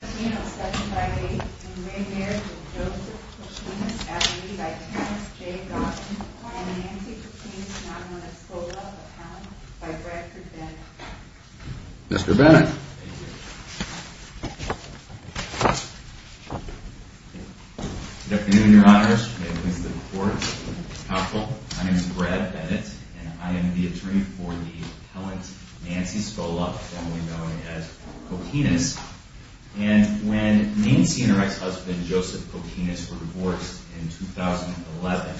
and Nancy Cokinis, not Helen Skolop, but Helen, by Bradford Bennett. Good afternoon, your honors. May it please the court, counsel. My name is Brad Bennett, and I am the attorney for the Helen Nancy Skolop, formerly known as Cokinis. And when Nancy and her ex-husband Joseph Cokinis were divorced in 2011,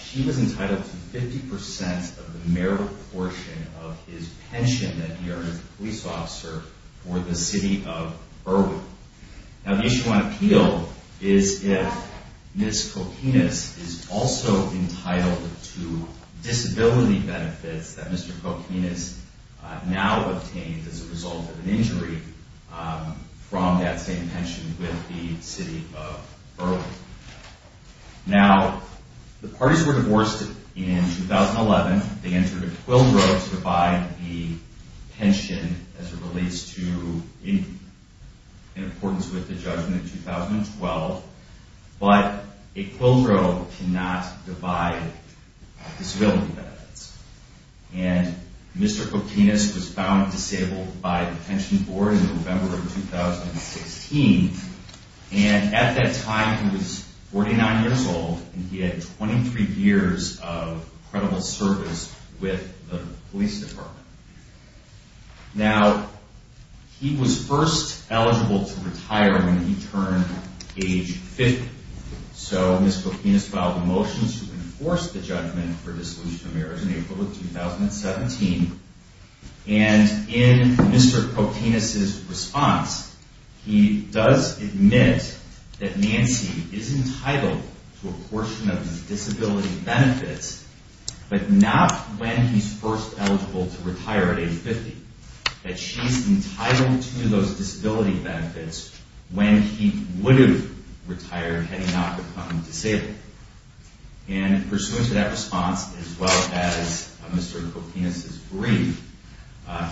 she was entitled to 50% of the marital portion of his pension that he earned as a police officer for the city of Irwin. Now, the issue on appeal is if Ms. Cokinis is also entitled to disability benefits that Mr. Cokinis now obtains as a result of an injury from that same pension with the city of Irwin. Now, the parties were divorced in 2011. They entered a quill row to divide the pension as it relates to an importance with the judgment in 2012, but a quill row cannot divide disability benefits. And Mr. Cokinis was found disabled by the pension board in November of 2016, and at that time he was 49 years old, and he had 23 years of credible service with the police department. Now, he was first eligible to retire when he turned age 50, so Ms. Cokinis filed a motion to enforce the judgment for disillusion of marriage in April of 2017, and in Mr. Cokinis' response, he does admit that Nancy is entitled to a portion of the disability benefits, but not when he's first eligible to retire at age 50, that she's entitled to those disability benefits when he would have retired had he not become disabled. And pursuant to that response, as well as Mr. Cokinis' brief,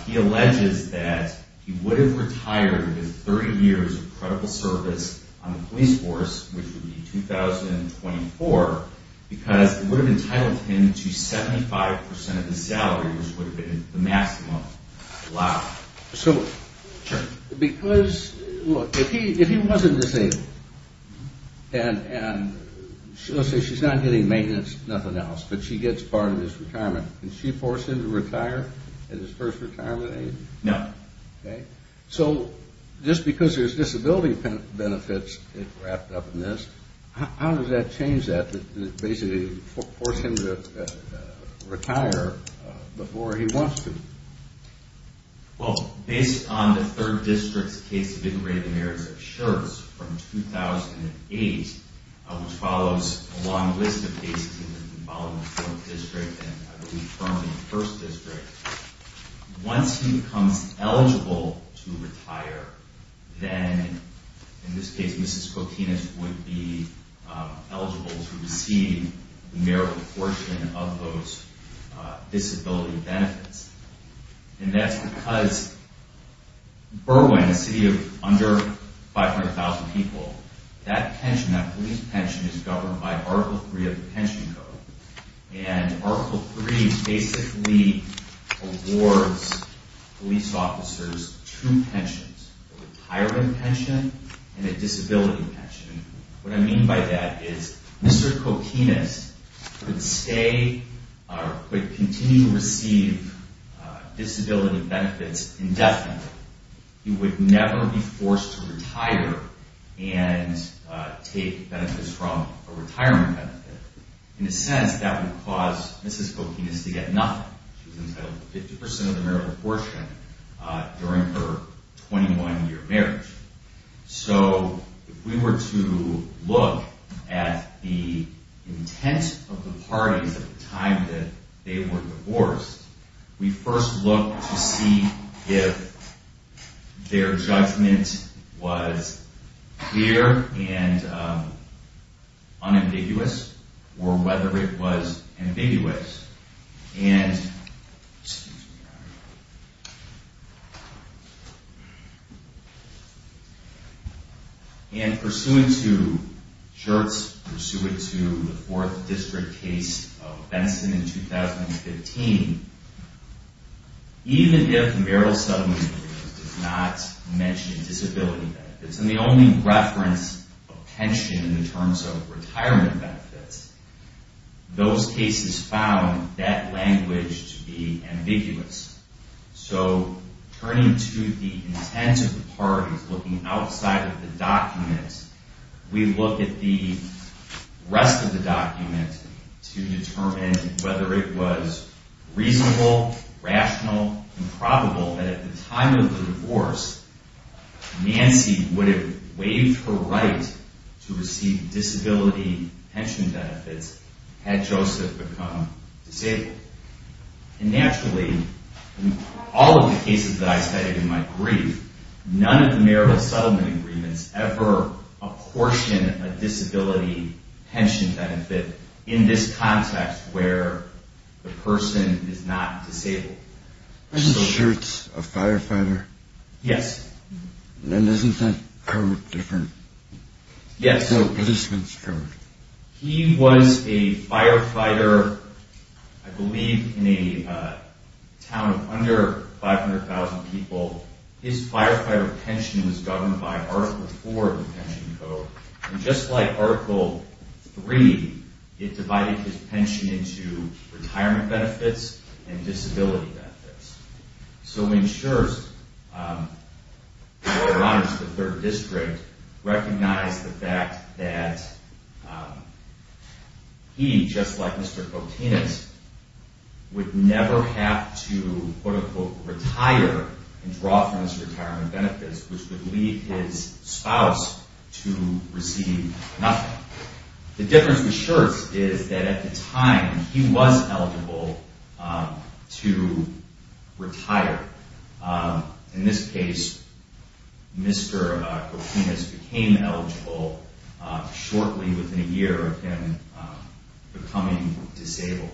he alleges that he would have retired with 30 years of credible service on the police force, which would be 2024, because it would have entitled him to 75% of his salary, which would have been the maximum. So, because, look, if he wasn't disabled, and she's not getting maintenance, nothing else, but she gets part of his retirement, can she force him to retire at his first retirement age? No. So, just because there's disability benefits wrapped up in this, how does that change that, basically force him to retire before he wants to? Well, based on the 3rd District's case of integrated marriage insurance from 2008, which follows a long list of cases involving the 4th District and, I believe, permanently the 1st District, once he becomes eligible to retire, then, in this case, Mrs. Cokinis would be eligible to receive the meritorious portion of those disability benefits. And that's because Berwyn, a city of under 500,000 people, that pension, that police pension, is governed by Article 3 of the Pension Code. And Article 3 basically awards police officers two pensions, a retirement pension and a disability pension. What I mean by that is Mr. Cokinis could stay or could continue to receive disability benefits indefinitely. He would never be forced to retire and take benefits from a retirement benefit. In a sense, that would cause Mrs. Cokinis to get nothing. She was entitled to 50% of the meritorious portion during her 21-year marriage. So if we were to look at the intent of the parties at the time that they were divorced, we first look to see if their judgment was clear and unambiguous or whether it was ambiguous. And pursuant to Schertz, pursuant to the 4th District case of Benson in 2015, even if Meryl Sudden's case does not mention disability benefits and the only reference of pension in terms of retirement benefits, those cases found that language to be ambiguous. So turning to the intent of the parties, looking outside of the document, we look at the rest of the document to determine whether it was reasonable, rational, and probable that at the time of the divorce, Nancy would have waived her right to receive disability pension benefits had Joseph become disabled. And naturally, in all of the cases that I cited in my brief, none of the marital settlement agreements ever apportion a disability pension benefit in this context where the person is not disabled. This is Schertz, a firefighter? Yes. And isn't that code different? Yes. No, participant's code. He was a firefighter, I believe, in a town of under 500,000 people. His firefighter pension was governed by Article 4 of the pension code, and just like Article 3, it divided his pension into retirement benefits and disability benefits. So when Schertz, the third district, recognized the fact that he, just like Mr. Cotenas, would never have to, quote unquote, retire and draw from his retirement benefits, which would leave his spouse to receive nothing. The difference with Schertz is that at the time, he was eligible to retire. In this case, Mr. Cotenas became eligible shortly within a year of him becoming disabled.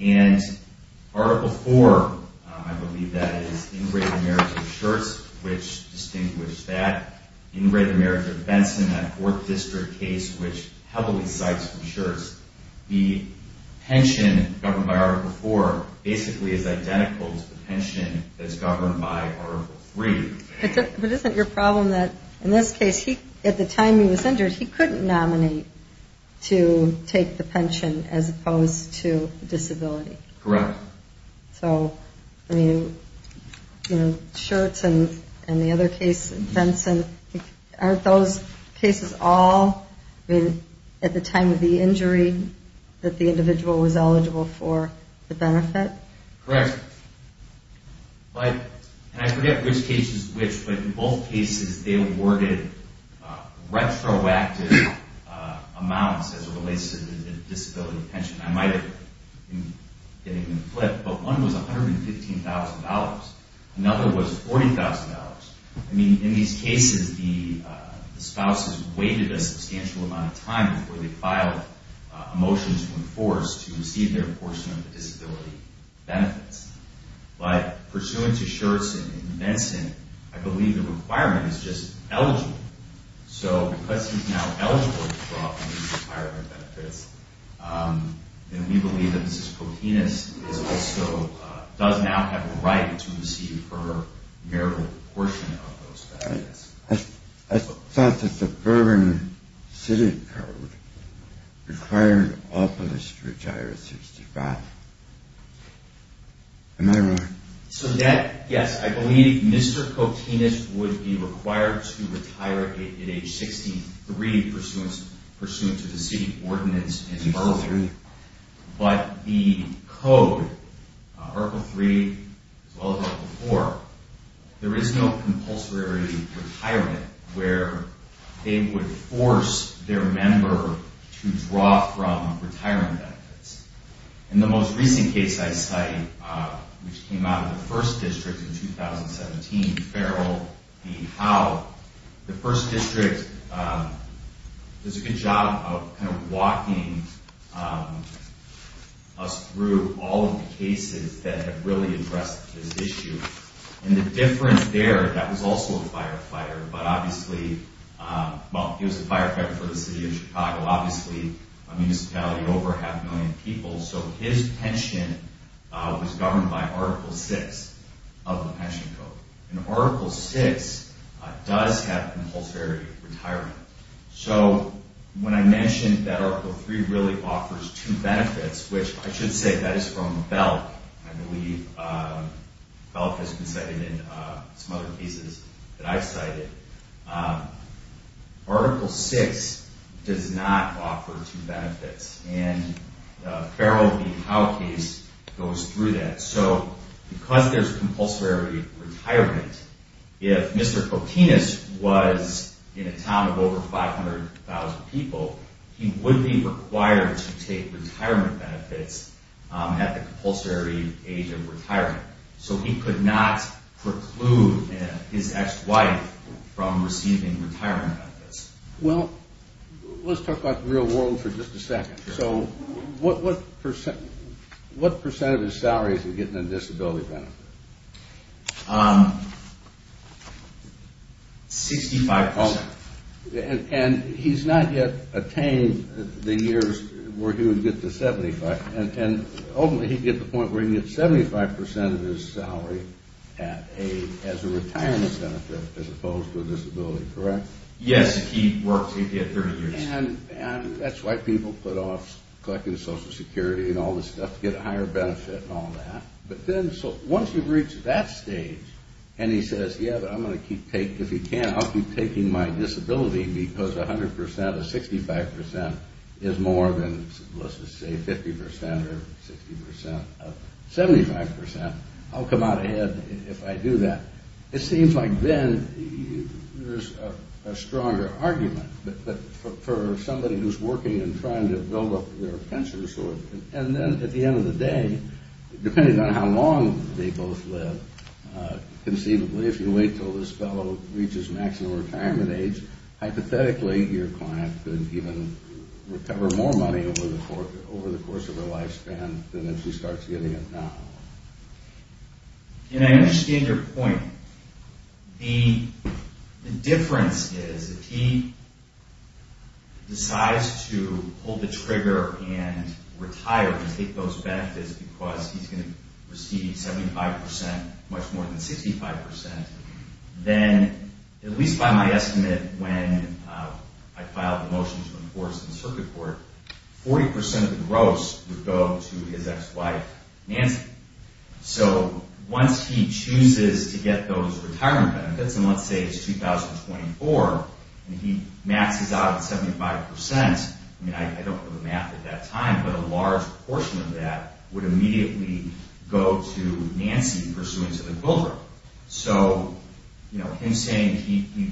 And Article 4, I believe that is Ingrate the Marriage of Schertz, which distinguished that. Ingrate the Marriage of Benson, that fourth district case, which heavily cites Schertz. The pension governed by Article 4 basically is identical to the pension that's governed by Article 3. But isn't your problem that in this case, at the time he was injured, he couldn't nominate to take the pension as opposed to disability? Correct. So, I mean, Schertz and the other case, Benson, aren't those cases all at the time of the injury that the individual was eligible for the benefit? Correct. But, and I forget which cases, but in both cases, they awarded retroactive amounts as it relates to the disability pension. I might have been getting them flipped, but one was $115,000. Another was $40,000. I mean, in these cases, the spouses waited a substantial amount of time before they filed a motion to enforce to receive their portion of the disability benefits. But pursuant to Schertz and Benson, I believe the requirement is just eligible. So, because he's now eligible to draw from these retirement benefits, then we believe that Mrs. Proteinus also does now have a right to receive her marital portion of those benefits. I thought that the Bourbon City Code required Opelous to retire at 65. Am I wrong? So that, yes, I believe Mr. Proteinus would be required to retire at age 63 pursuant to the city ordinance as well. Age 63. But the code, Article 3, as well as Article 4, there is no compulsory retirement where they would force their member to draw from retirement benefits. In the most recent case I cite, which came out of the 1st District in 2017, Farrell v. Howe, the 1st District does a good job of kind of walking us through all of the cases that have really addressed this issue. And the difference there, that was also a firefighter, but obviously, well, he was a firefighter for the City of Chicago, obviously a municipality of over half a million people. So his pension was governed by Article 6 of the pension code. And Article 6 does have compulsory retirement. So when I mentioned that Article 3 really offers two benefits, which I should say that is from Belk, I believe. Belk has been cited in some other cases that I've cited. Article 6 does not offer two benefits. And Farrell v. Howe case goes through that. So because there's compulsory retirement, if Mr. Popinas was in a town of over 500,000 people, he would be required to take retirement benefits at the compulsory age of retirement. So he could not preclude his ex-wife from receiving retirement benefits. Well, let's talk about the real world for just a second. So what percent of his salary is he getting in disability benefit? 65%. And he's not yet attained the years where he would get to 75. And ultimately, he'd get to the point where he'd get 75% of his salary as a retirement benefit as opposed to a disability, correct? Yes, he'd get 30 years. And that's why people put off collecting Social Security and all this stuff to get a higher benefit and all that. But then, so once you've reached that stage and he says, yeah, I'm going to keep taking, if he can, I'll keep taking my disability because 100% of 65% is more than, let's just say, 50% or 60% of 75%, I'll come out ahead if I do that. It seems like then there's a stronger argument for somebody who's working and trying to build up their pension. And then at the end of the day, depending on how long they both live, conceivably, if you wait until this fellow reaches maximum retirement age, hypothetically, your client could even recover more money over the course of their lifespan than if she starts getting it now. And I understand your point. So once he chooses to get those retirement benefits, and let's say it's 2024, and he maxes out at 75%, I mean, I don't know the math at that time, but a large portion of that would immediately go to Nancy pursuant to the GILDRA. So, you know, him saying he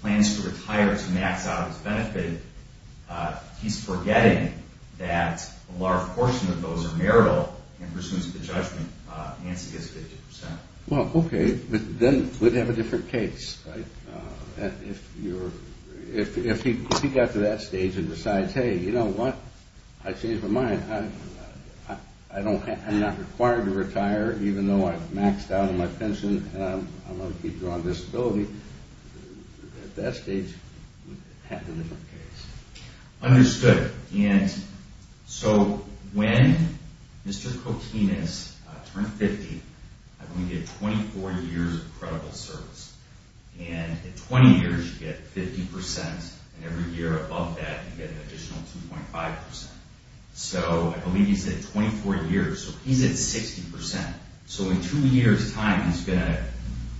plans to retire to max out his benefit, he's forgetting that a large portion of those are marital and pursuant to the judgment, Nancy gets 50%. Well, okay, but then we'd have a different case, right? If he got to that stage and decides, hey, you know what? I changed my mind. I'm not required to retire even though I've maxed out on my pension and I'm going to keep drawing disability. At that stage, we'd have a different case. Understood. And so when Mr. Kokienis turned 50, I believe he had 24 years of credible service. And at 20 years, you get 50%, and every year above that, you get an additional 2.5%. So I believe he's at 24 years, so he's at 60%. So in two years' time, he's going to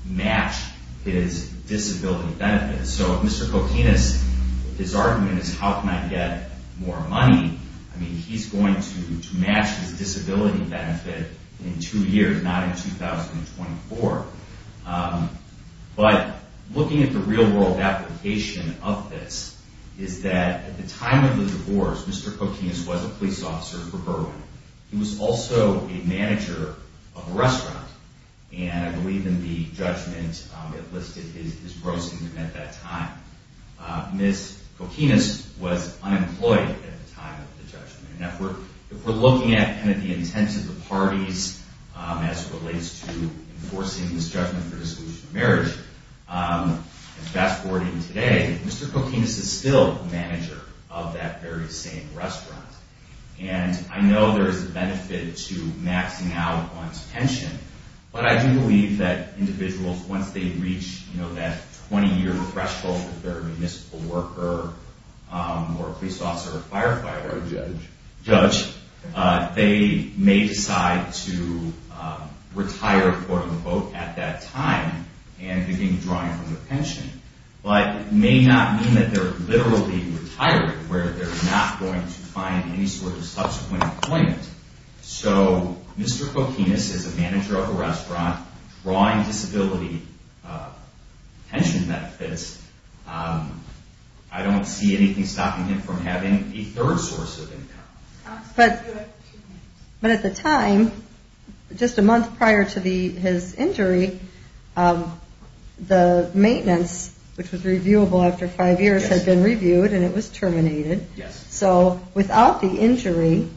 match his disability benefits. So Mr. Kokienis, his argument is how can I get more money? I mean, he's going to match his disability benefit in two years, not in 2024. But looking at the real-world application of this is that at the time of the divorce, Mr. Kokienis was a police officer for Burbank. He was also a manager of a restaurant, and I believe in the judgment, it listed his gross income at that time. Ms. Kokienis was unemployed at the time of the judgment. And if we're looking at the intent of the parties as it relates to enforcing this judgment for dissolution of marriage, and fast-forwarding today, Mr. Kokienis is still manager of that very same restaurant. And I know there's a benefit to maxing out on detention, but I do believe that individuals, once they reach that 20-year threshold with their municipal worker or police officer or firefighter or judge, they may decide to retire, quote-unquote, at that time and begin drawing from their pension. But it may not mean that they're literally retiring, where they're not going to find any sort of subsequent employment. So Mr. Kokienis is a manager of a restaurant, drawing disability pension benefits. I don't see anything stopping him from having a third source of income. But at the time, just a month prior to his injury, the maintenance, which was reviewable after five years, had been reviewed, and it was terminated. So without the injury,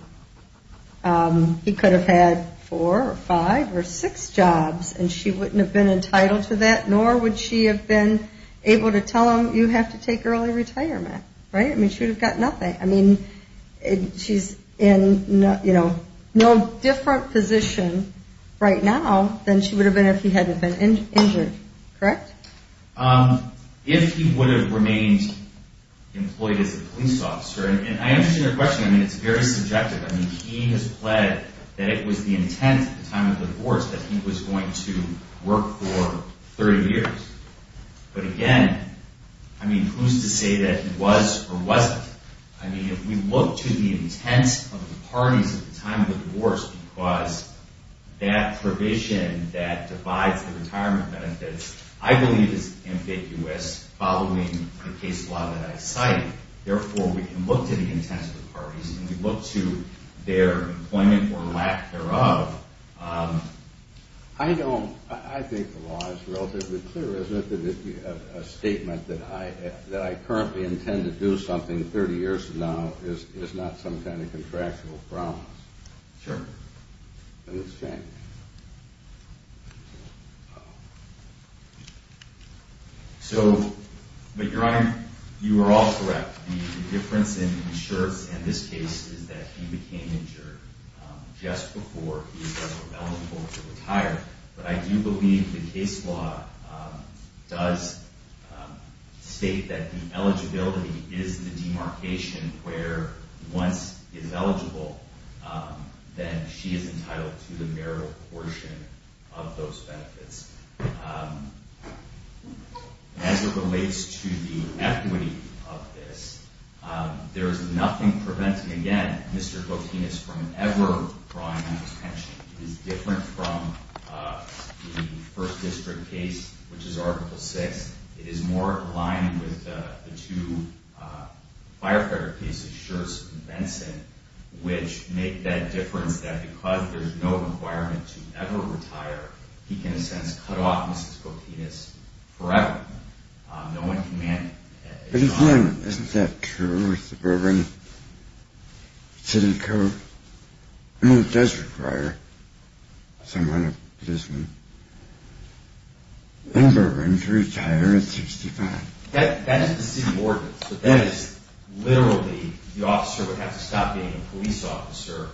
he could have had four or five or six jobs, and she wouldn't have been entitled to that, nor would she have been able to tell him, you have to take early retirement. Right? I mean, she would have got nothing. I mean, she's in, you know, no different position right now than she would have been if he had been injured. Correct? If he would have remained employed as a police officer – and I understand your question. I mean, it's very subjective. I mean, he has pled that it was the intent at the time of the divorce that he was going to work for 30 years. But again, I mean, who's to say that he was or wasn't? I mean, if we look to the intents of the parties at the time of the divorce, because that provision that divides the retirement benefits, I believe is ambiguous, following the case law that I cited. Therefore, we can look to the intents of the parties, and we look to their employment or lack thereof. I don't – I think the law is relatively clear, isn't it, that if you have a statement that I currently intend to do something 30 years from now is not some kind of contractual promise. Sure. And it's changed. So – but Your Honor, you are all correct. The difference in insurance in this case is that he became injured just before he was eligible to retire. But I do believe the case law does state that the eligibility is the demarcation where once he's eligible, then she is entitled to the marital portion of those benefits. As it relates to the equity of this, there is nothing preventing, again, Mr. Botinis from ever drawing his attention. It is different from the First District case, which is Article VI. It is more in line with the two firefighter cases, Schertz and Benson, which make that difference that because there's no requirement to ever retire, he can, in a sense, cut off Mrs. Botinis forever. No one can – But again, isn't that true with the Bergen city code? I mean, it does require someone, a policeman, in Bergen to retire at 65. That is the city ordinance. That is literally – the officer would have to stop being a police officer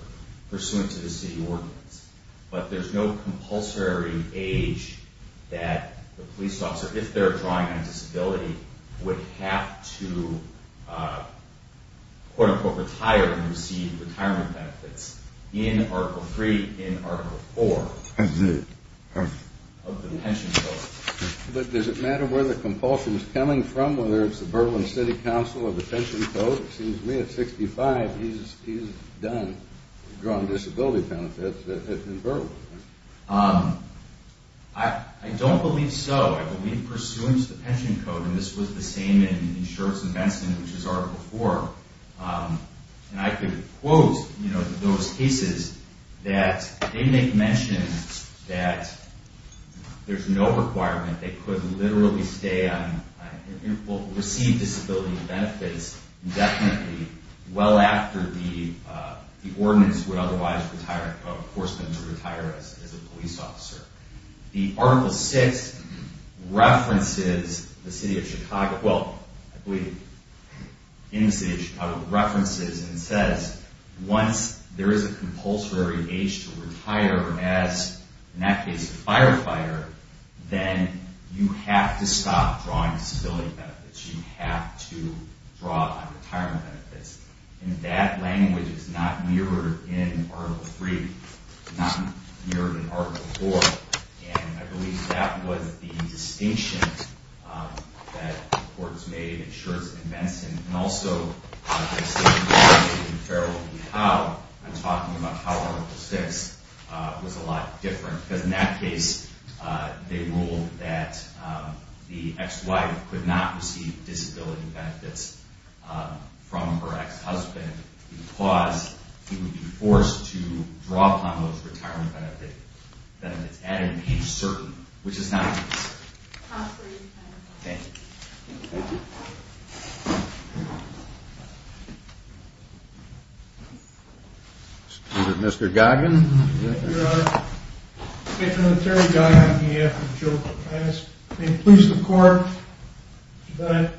pursuant to the city ordinance. But there's no compulsory age that the police officer, if they're drawing on disability, would have to, quote-unquote, retire and receive retirement benefits in Article III, in Article IV of the pension code. But does it matter where the compulsion is coming from, whether it's the Berlin city council or the pension code? It seems to me at 65, he's done drawing disability benefits in Berlin. I don't believe so. I believe pursuant to the pension code – and this was the same in Schertz and Benson, which was Article IV – and I could quote those cases that they make mention that there's no requirement. They could literally stay on – receive disability benefits indefinitely, well after the ordinance would otherwise force them to retire as a police officer. The Article VI references the city of Chicago – well, I believe in the city of Chicago – references and says once there is a compulsory age to retire as, in that case, a firefighter, then you have to stop drawing disability benefits. You have to draw on retirement benefits. And that language is not mirrored in Article III, not mirrored in Article IV. And I believe that was the distinction that the courts made in Schertz and Benson. And also the distinction that they made in Farrell v. Powell in talking about how Article VI was a lot different. Because in that case, they ruled that the ex-wife could not receive disability benefits from her ex-husband because he would be forced to draw upon those retirement benefits at an age certain, which is not age certain. Thank you. Mr. Goggin. Thank you, Your Honor. I'm Terry Goggin. I'm here after a joke. I may have pleased the court, but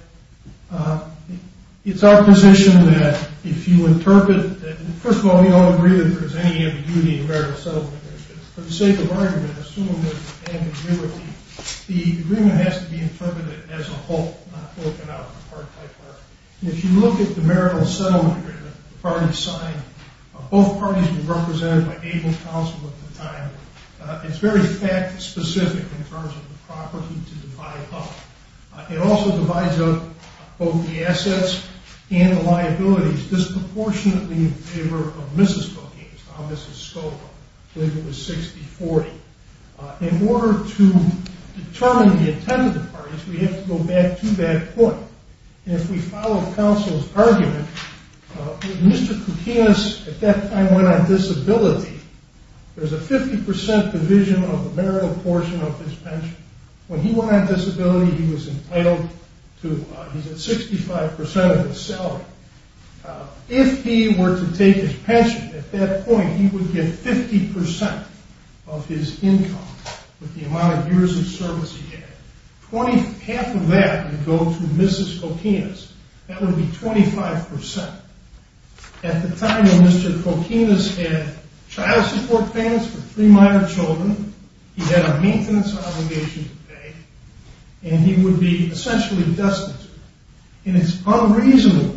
it's our position that if you interpret – first of all, we don't agree that there's any ambiguity in marital settlement. Both parties were represented by Abel's counsel at the time. It's very fact-specific in terms of the property to divide up. It also divides up both the assets and the liabilities disproportionately in favor of Mrs. Cookings, now Mrs. Scola. I believe it was 60-40. In order to determine the intent of the parties, we have to go back to that point. And if we follow counsel's argument, Mr. Cookings at that time went on disability. There's a 50% division of the marital portion of his pension. When he went on disability, he was entitled to – he had 65% of his salary. If he were to take his pension at that point, he would get 50% of his income with the amount of years of service he had. Half of that would go to Mrs. Cookings. That would be 25%. At the time, Mr. Cookings had child support payments for three minor children. He had a maintenance obligation to pay, and he would be essentially destitute. And it's unreasonable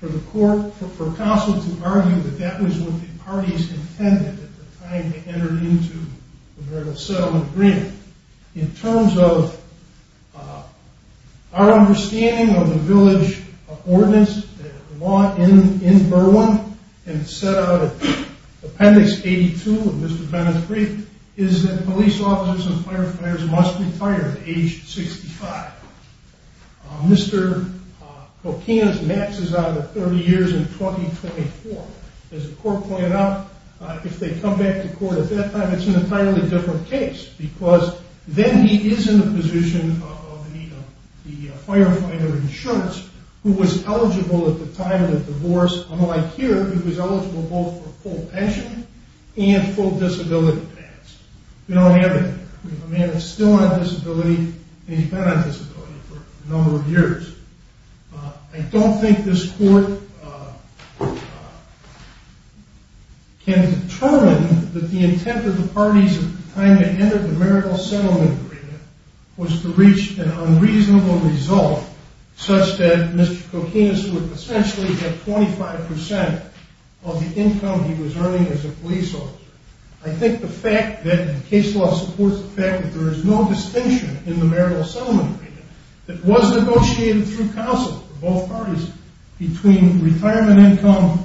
for counsel to argue that that was what the parties intended at the time they entered into the marital settlement agreement. In terms of our understanding of the village ordinance, the law in Berwyn and set out in Appendix 82 of Mr. Bennett's brief, is that police officers and firefighters must retire at age 65. Mr. Cookings maxes out at 30 years in 2024. As the court pointed out, if they come back to court at that time, it's an entirely different case, because then he is in the position of the firefighter insurance, who was eligible at the time of the divorce. Unlike here, he was eligible both for full pension and full disability pass. We don't have it here. A man is still on disability, and he's been on disability for a number of years. I don't think this court can determine that the intent of the parties at the time they entered the marital settlement agreement was to reach an unreasonable result such that Mr. Cookings would essentially get 25% of the income he was earning as a police officer. I think the fact that the case law supports the fact that there is no distinction in the marital settlement agreement that was negotiated through counsel for both parties between retirement income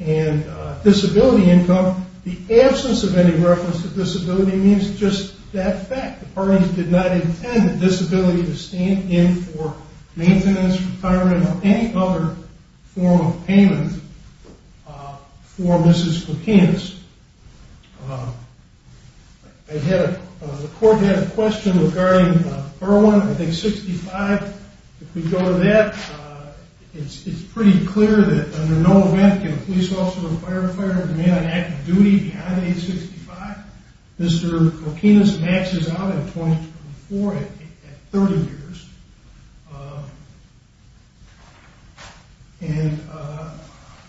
and disability income, the absence of any reference to disability means just that fact. The parties did not intend disability to stand in for maintenance, retirement, or any other form of payment for Mrs. Cookings. The court had a question regarding heroin at age 65. If we go to that, it's pretty clear that under no event can a police officer or firefighter be on active duty beyond age 65. Mr. Cookings maxes out at 24 at 30 years.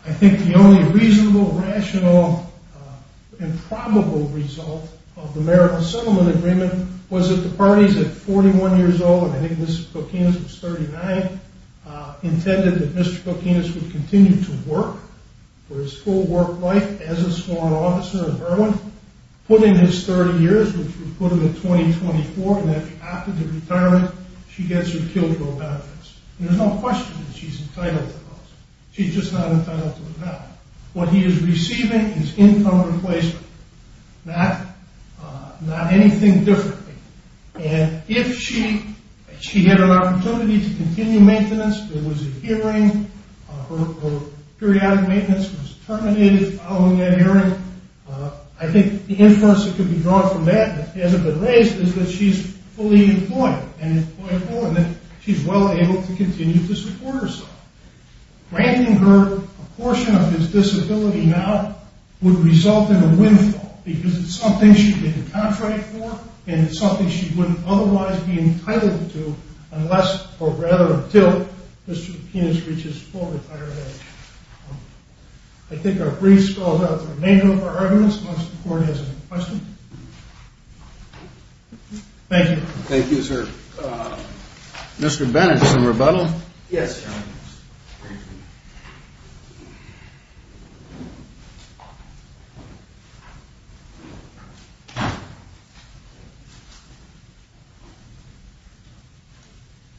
I think the only reasonable, rational, and probable result of the marital settlement agreement was that the parties at 41 years old, and I think Mrs. Cookings was 39, intended that Mr. Cookings would continue to work for his full work life as a sworn officer in Berlin. Putting his 30 years, which would put him at 20-24, and after the retirement, she gets her kill-throw benefits. There's no question that she's entitled to those. She's just not entitled to them now. What he is receiving is income replacement, not anything differently. And if she had an opportunity to continue maintenance, there was a hearing, her periodic maintenance was terminated following that hearing, I think the inference that could be drawn from that that hasn't been raised is that she's fully employed and employed for, and that she's well able to continue to support herself. Granting her a portion of his disability now would result in a windfall, because it's something she'd been contracted for, and it's something she wouldn't otherwise be entitled to unless, or rather until, Mr. Cookings reaches full retirement age. I think our briefs call out the remainder of our arguments, unless the court has any questions. Thank you. Thank you, sir. Mr. Bennett, do you have a rebuttal? Yes, Your Honor.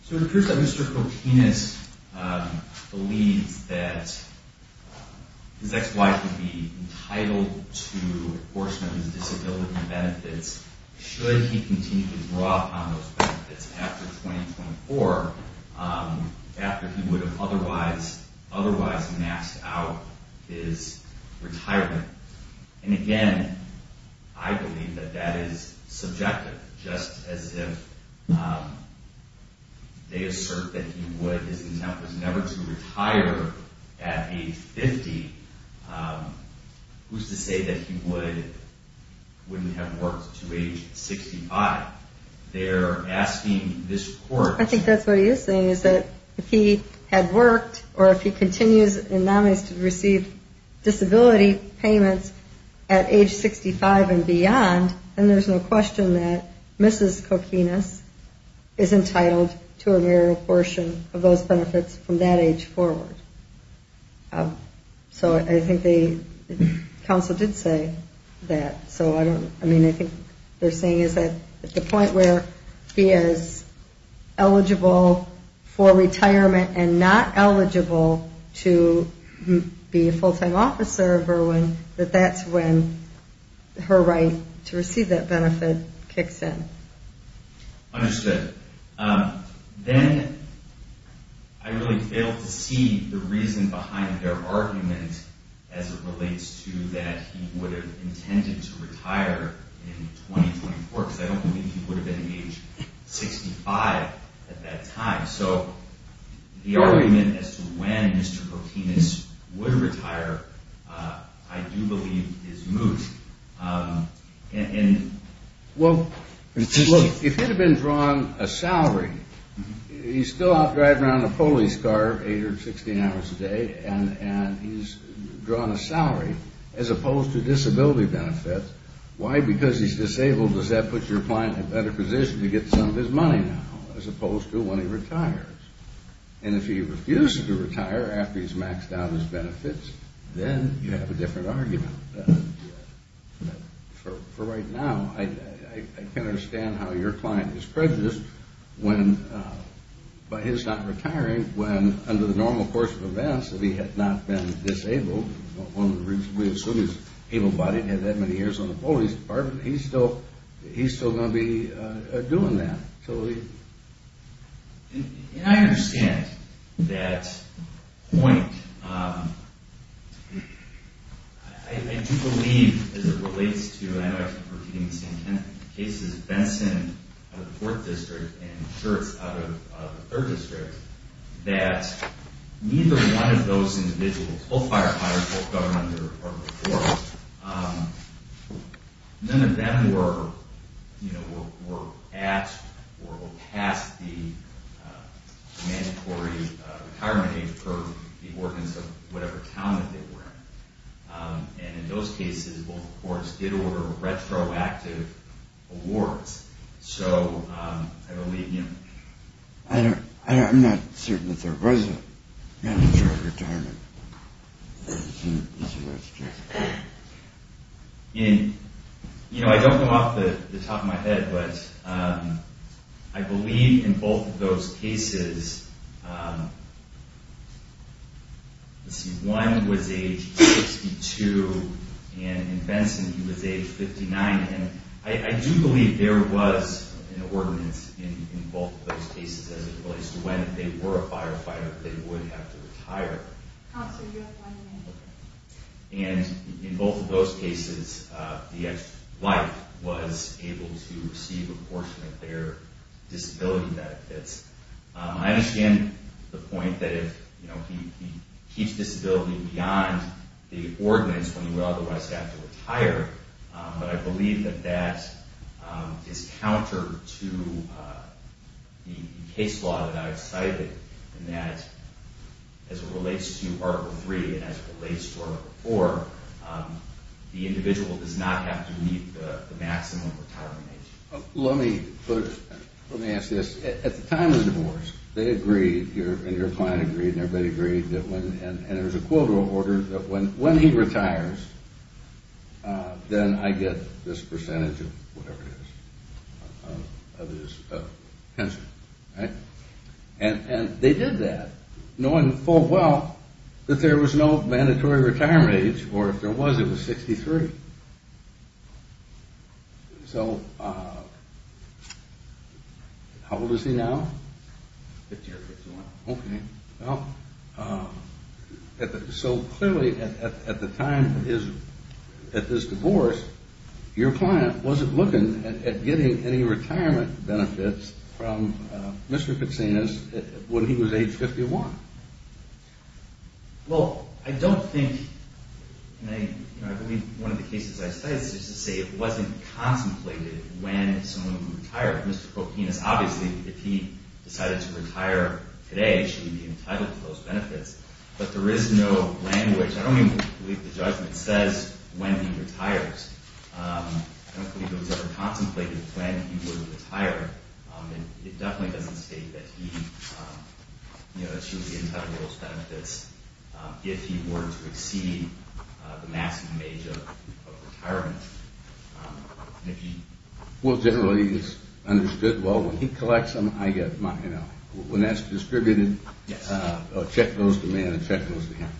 So it appears that Mr. Cookings believes that his ex-wife would be entitled to a portion of his disability benefits should he continue to draw upon those benefits after 20-24, after he would have otherwise maxed out his retirement. And again, I believe that that is subjective, just as if they assert that he would, his intent was never to retire at age 50. Who's to say that he would, wouldn't have worked to age 65? They're asking this court. I think that's what he is saying, is that if he had worked, or if he continues and now needs to receive disability payments at age 65 and beyond, then there's no question that Mrs. Cookiness is entitled to a mere portion of those benefits from that age forward. So I think the counsel did say that. So I don't, I mean, I think they're saying is that at the point where he is eligible for retirement and not eligible to be a full-time officer of Irwin, that that's when her right to receive that benefit kicks in. Understood. Then I really failed to see the reason behind their argument as it relates to that he would have intended to retire in 20-24, because I don't believe he would have been age 65 at that time. So the argument as to when Mr. Cookiness would retire, I do believe is moot. Well, if he had been drawn a salary, he's still out driving around in a police car eight or 16 hours a day, and he's drawn a salary, as opposed to disability benefits. Why? Because he's disabled. Does that put your client in a better position to get some of his money now, as opposed to when he retires? And if he refuses to retire after he's maxed out his benefits, then you have a different argument. But for right now, I can understand how your client is prejudiced when, by his not retiring, when under the normal course of events that he had not been disabled, we assume he's able-bodied, had that many years on the police department, he's still going to be doing that. I can understand that point. I do believe, as it relates to, and I know I keep repeating the same cases, Benson out of the 4th District and Schertz out of the 3rd District, that neither one of those individuals, both firefighters, both government or the courts, none of them were at or past the mandatory retirement age for the organs of whatever town that they were in. And in those cases, both courts did order retroactive awards. I'm not certain that there was a mandatory retirement age in those cases. There was an ordinance in both of those cases as it relates to when they were a firefighter, they would have to retire. And in both of those cases, the ex-wife was able to receive a portion of their disability benefits. I understand the point that if he keeps disability beyond the ordinance when he would otherwise have to retire, but I believe that that is counter to the case law that I've cited, and that as it relates to Article 3 and as it relates to Article 4, the individual does not have to meet the maximum retirement age. Let me ask this. At the time of the divorce, they agreed, and your client agreed, and everybody agreed, and there was a quota order that when he retires, then I get this percentage of whatever it is, of his pension. And they did that, knowing full well that there was no mandatory retirement age, or if there was, it was 63. So how old is he now? Okay. So clearly at the time of his divorce, your client wasn't looking at getting any retirement benefits from Mr. Katsinas when he was age 51. Well, I don't think, and I believe one of the cases I cited is to say it wasn't contemplated when someone retired. Mr. Katsinas, obviously, if he decided to retire today, he should be entitled to those benefits. But there is no language, I don't even believe the judgment says when he retires. I don't believe it was ever contemplated when he would retire, and it definitely doesn't state that he should be entitled to those benefits if he were to exceed the maximum age of retirement. Well, generally it's understood, well, when he collects them, I get mine. When that's distributed, check those to me and check those to him.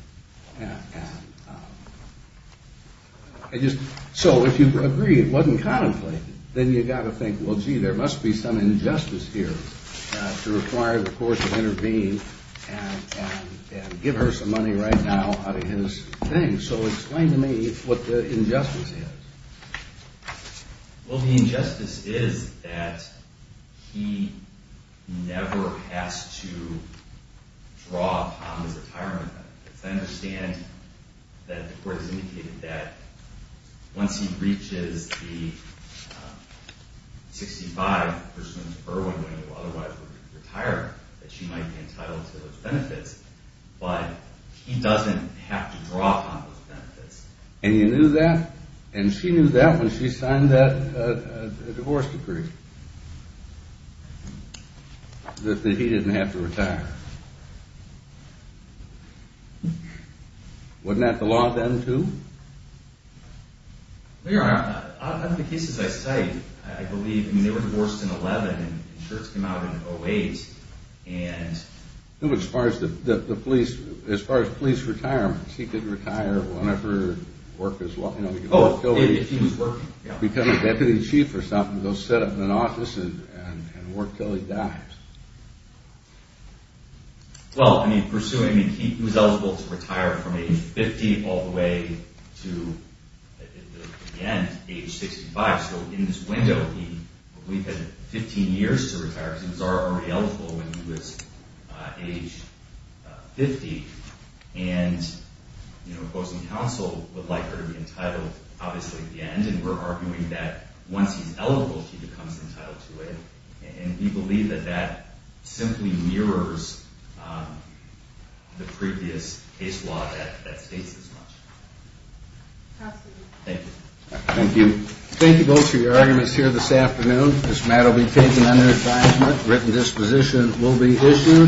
So if you agree it wasn't contemplated, then you've got to think, well, gee, there must be some injustice here to require the court to intervene and give her some money right now out of his thing. So explain to me what the injustice is. Well, the injustice is that he never has to draw upon the retirement benefits. I understand that the court has indicated that once he reaches the 65, pursuant to Irwin, when he would otherwise retire, that she might be entitled to those benefits, but he doesn't have to draw upon those benefits. And you knew that? And she knew that when she signed that divorce decree, that he didn't have to retire. Wasn't that the law then, too? Well, your Honor, out of the cases I cite, I believe, I mean, they were divorced in 11, and insurance came out in 08, and... As far as police retirement, he could retire whenever work was... Oh, if he was working, yeah. Become a deputy chief or something, go set up in an office and work until he dies. Well, I mean, pursuing, he was eligible to retire from age 50 all the way to, again, age 65. So in this window, he had 15 years to retire, because he was already eligible when he was age 50. And opposing counsel would like her to be entitled, obviously, at the end, and we're arguing that once he's eligible, she becomes entitled to it. And we believe that that simply mirrors the previous case law that states as much. Thank you. Thank you. Thank you both for your arguments here this afternoon. This matter will be taken under advisement. Written disposition will be issued.